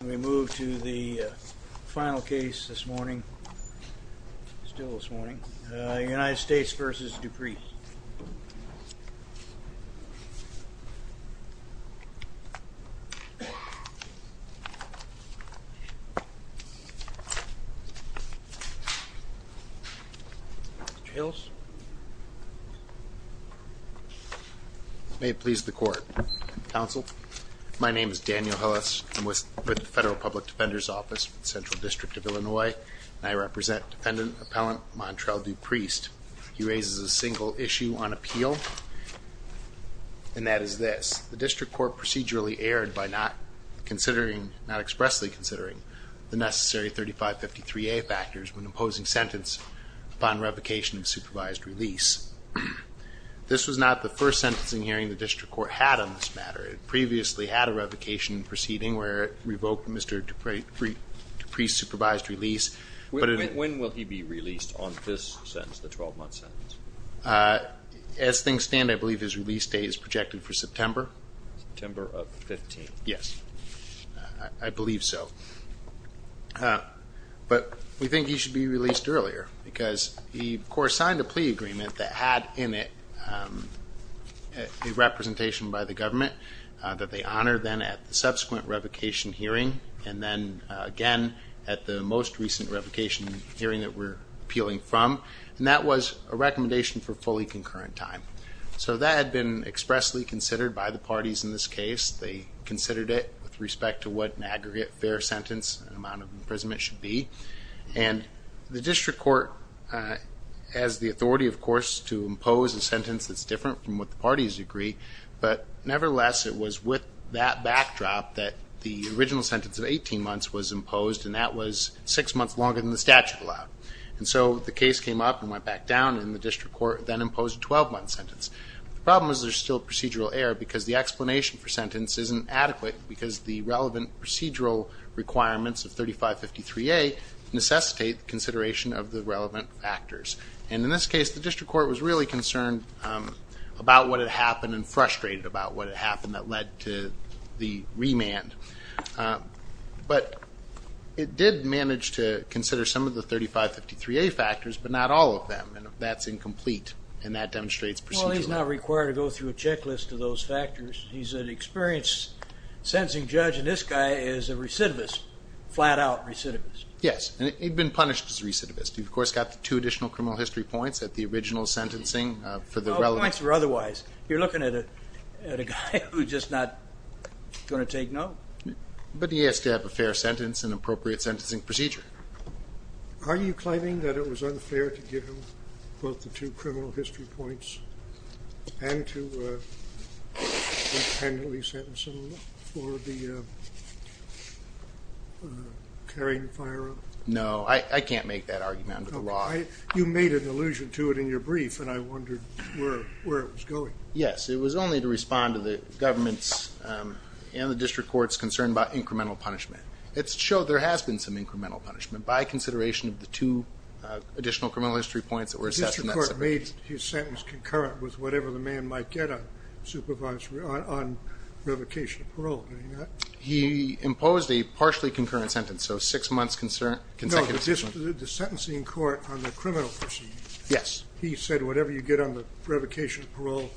We move to the final case this morning, still this morning, United States v. Dupriest. Mr. Hills. May it please the court. Counsel. My name is Daniel Hillis. I'm with the Federal Public Defender's Office, Central District of Illinois. And I represent Defendant Appellant Montrell Dupriest. He raises a single issue on appeal, and that is this. The district court procedurally erred by not expressly considering the necessary 3553A factors when imposing sentence upon revocation of supervised release. This was not the first sentencing hearing the district court had on this matter. It previously had a revocation proceeding where it revoked Mr. Dupriest's supervised release. When will he be released on this sentence, the 12-month sentence? As things stand, I believe his release date is projected for September. September of 15th. Yes, I believe so. But we think he should be released earlier because the court signed a plea agreement that had in it a representation by the government that they honored then at the subsequent revocation hearing and then again at the most recent revocation hearing that we're appealing from. And that was a recommendation for fully concurrent time. So that had been expressly considered by the parties in this case. They considered it with respect to what an aggregate fair sentence and amount of imprisonment should be. And the district court has the authority, of course, to impose a sentence that's different from what the parties agree. But nevertheless, it was with that backdrop that the original sentence of 18 months was imposed, and that was six months longer than the statute allowed. And so the case came up and went back down, and the district court then imposed a 12-month sentence. The problem is there's still procedural error because the explanation for sentence isn't adequate because the relevant procedural requirements of 3553A necessitate consideration of the relevant factors. And in this case, the district court was really concerned about what had happened and frustrated about what had happened that led to the remand. But it did manage to consider some of the 3553A factors, but not all of them. And that's incomplete, and that demonstrates procedural error. Well, he's not required to go through a checklist of those factors. He's an experienced sentencing judge, and this guy is a recidivist, flat-out recidivist. Yes, and he'd been punished as a recidivist. He, of course, got the two additional criminal history points at the original sentencing for the relevant. Points or otherwise. You're looking at a guy who's just not going to take no. But he has to have a fair sentence and appropriate sentencing procedure. Are you claiming that it was unfair to give him both the two criminal history points and to independently sentence him for the carrying firearm? No. I can't make that argument under the law. You made an allusion to it in your brief, and I wondered where it was going. Yes. It was only to respond to the government's and the district court's concern about incremental punishment. It showed there has been some incremental punishment, by consideration of the two additional criminal history points that were assessed in that sentence. The district court made his sentence concurrent with whatever the man might get on revocation of parole. Did he not? He imposed a partially concurrent sentence, so six months consecutive. No, the sentencing court on the criminal proceedings. Yes. He said whatever you get on the revocation of parole,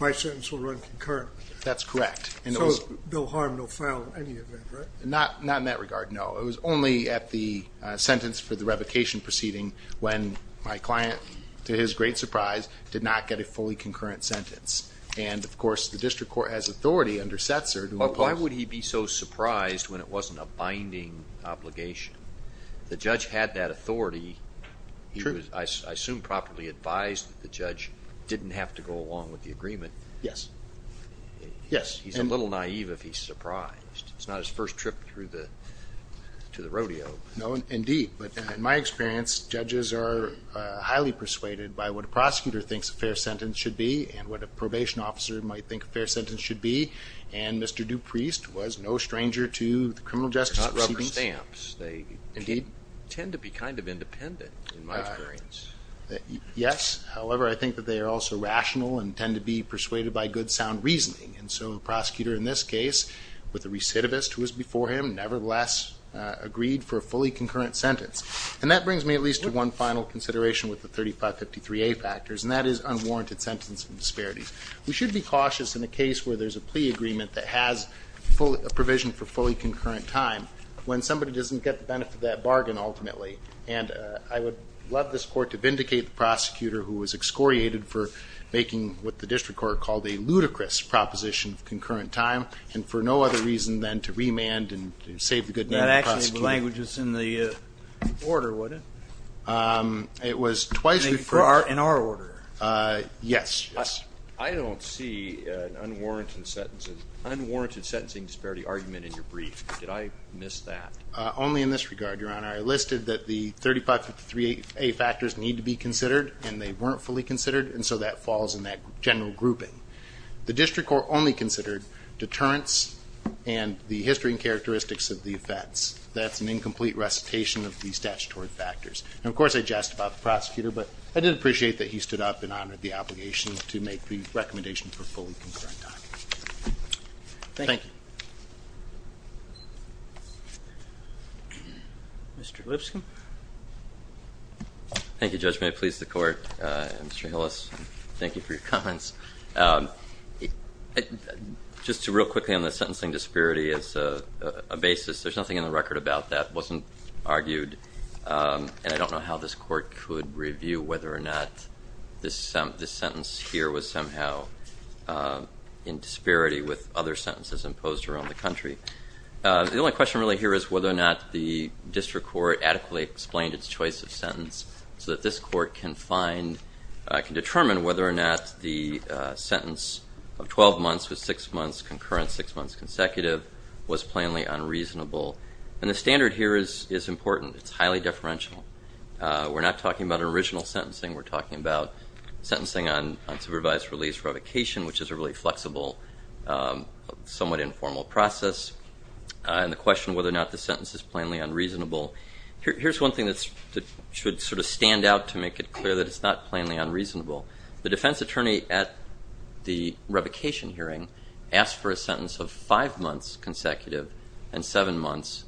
my sentence will run concurrently. That's correct. So no harm, no foul in any event, right? Not in that regard, no. It was only at the sentence for the revocation proceeding when my client, to his great surprise, did not get a fully concurrent sentence. And, of course, the district court has authority under Setzer to impose. Why would he be so surprised when it wasn't a binding obligation? The judge had that authority. True. He was, I assume, properly advised that the judge didn't have to go along with the agreement. Yes. He's a little naive if he's surprised. It's not his first trip to the rodeo. No, indeed. But in my experience, judges are highly persuaded by what a prosecutor thinks a fair sentence should be and what a probation officer might think a fair sentence should be, and Mr. Dupreist was no stranger to the criminal justice proceedings. They're not rubber stamps. Indeed. They tend to be kind of independent, in my experience. Yes. However, I think that they are also rational and tend to be persuaded by good, sound reasoning. And so a prosecutor in this case, with a recidivist who was before him, nevertheless agreed for a fully concurrent sentence. And that brings me at least to one final consideration with the 3553A factors, and that is unwarranted sentencing disparities. We should be cautious in a case where there's a plea agreement that has a provision for fully concurrent time when somebody doesn't get the benefit of that bargain, ultimately. And I would love this Court to vindicate the prosecutor who was excoriated for making what the district court called a ludicrous proposition of concurrent time and for no other reason than to remand and save the good name of the prosecutor. That actually is the language that's in the order, wouldn't it? It was twice referred to. In our order. Yes. I don't see an unwarranted sentencing disparity argument in your brief. Did I miss that? Only in this regard, Your Honor. I listed that the 3553A factors need to be considered, and they weren't fully considered, and so that falls in that general grouping. The district court only considered deterrence and the history and characteristics of the offense. That's an incomplete recitation of the statutory factors. And, of course, I jest about the prosecutor, but I did appreciate that he stood up and honored the obligation to make the recommendation for fully concurrent time. Thank you. Mr. Lipscomb. Thank you, Judge Mayer. It pleased the court. Mr. Hillis, thank you for your comments. Just real quickly on the sentencing disparity as a basis, there's nothing in the record about that. It wasn't argued, and I don't know how this court could review whether or not this sentence here was somehow in disparity with other sentences imposed around the country. The only question really here is whether or not the district court adequately explained its choice of sentence so that this court can determine whether or not the sentence of 12 months with six months concurrent, six months consecutive, was plainly unreasonable. And the standard here is important. It's highly deferential. We're not talking about original sentencing. We're talking about sentencing on supervised release revocation, which is a really flexible, somewhat informal process. And the question of whether or not the sentence is plainly unreasonable, here's one thing that should sort of stand out to make it clear that it's not plainly unreasonable. The defense attorney at the revocation hearing asked for a sentence of five months consecutive and seven months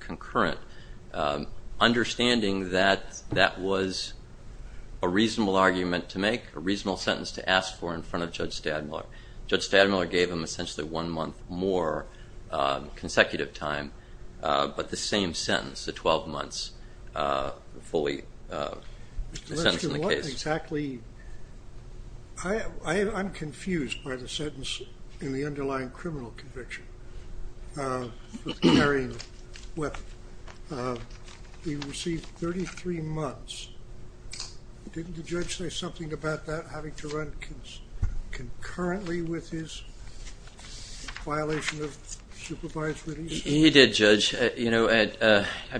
concurrent, understanding that that was a reasonable argument to make, a reasonable sentence to ask for in front of Judge Stadmiller. Judge Stadmiller gave him essentially one month more consecutive time, but the same sentence, the 12 months fully sentencing the case. Exactly. I'm confused by the sentence in the underlying criminal conviction for carrying weapons. He received 33 months. Didn't the judge say something about that, having to run concurrently with his violation of supervised release? He did, Judge. I've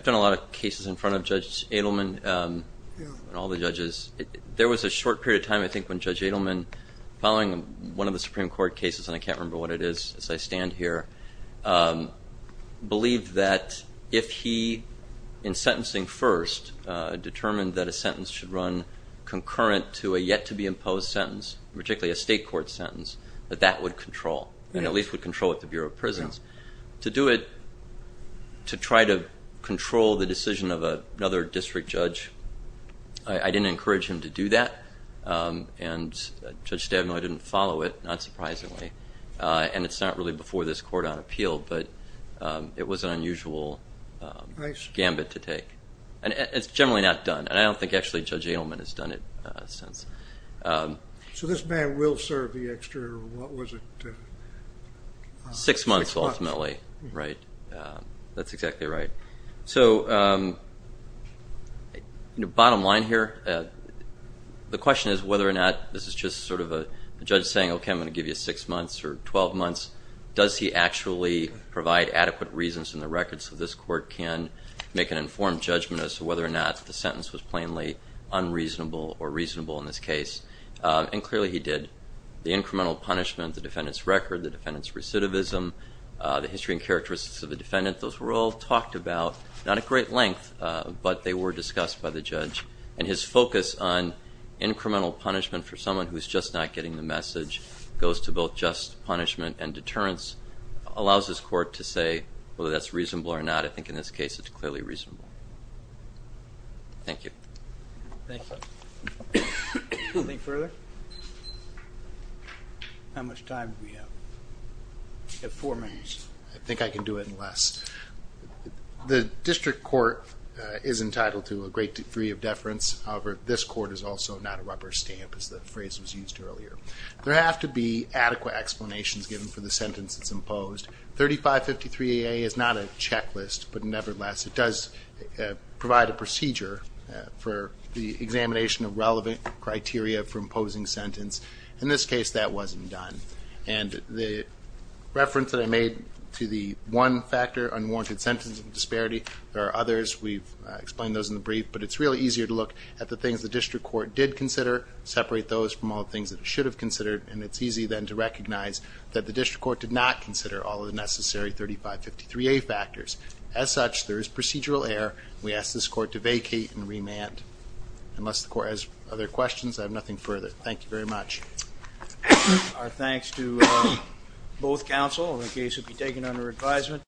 done a lot of cases in front of Judge Adelman and all the judges. There was a short period of time, I think, when Judge Adelman, following one of the Supreme Court cases, and I can't remember what it is as I stand here, believed that if he, in sentencing first, determined that a sentence should run concurrent to a yet-to-be-imposed sentence, particularly a state court sentence, that that would control, and at least would control at the Bureau of Prisons. To do it to try to control the decision of another district judge, I didn't encourage him to do that, and Judge Stadmiller didn't follow it, not surprisingly. And it's not really before this court on appeal, but it was an unusual gambit to take. It's generally not done, and I don't think actually Judge Adelman has done it since. So this man will serve the extra, what was it? Six months, ultimately, right? That's exactly right. So bottom line here, the question is whether or not this is just sort of a judge saying, okay, I'm going to give you six months or 12 months. Does he actually provide adequate reasons in the record so this court can make an informed judgment as to whether or not the sentence was plainly unreasonable or reasonable in this case? And clearly he did. The incremental punishment, the defendant's record, the defendant's recidivism, the history and characteristics of the defendant, those were all talked about, not at great length, but they were discussed by the judge. And his focus on incremental punishment for someone who's just not getting the message goes to both just punishment and deterrence, allows this court to say whether that's reasonable or not. I think in this case it's clearly reasonable. Thank you. Thank you. Anything further? How much time do we have? We have four minutes. I think I can do it in less. The district court is entitled to a great degree of deference. However, this court is also not a rubber stamp, as the phrase was used earlier. There have to be adequate explanations given for the sentence that's imposed. 3553AA is not a checklist, but nevertheless, it does provide a procedure for the examination of relevant criteria for imposing sentence. In this case, that wasn't done. And the reference that I made to the one factor, unwarranted sentence of disparity, there are others, we've explained those in the brief, but it's really easier to look at the things the district court did consider, separate those from all the things that it should have considered, and it's easy then to recognize that the district court did not consider all of the necessary 3553A factors. As such, there is procedural error. We ask this court to vacate and remand. Unless the court has other questions, I have nothing further. Thank you very much. Our thanks to both counsel. The case will be taken under advisement.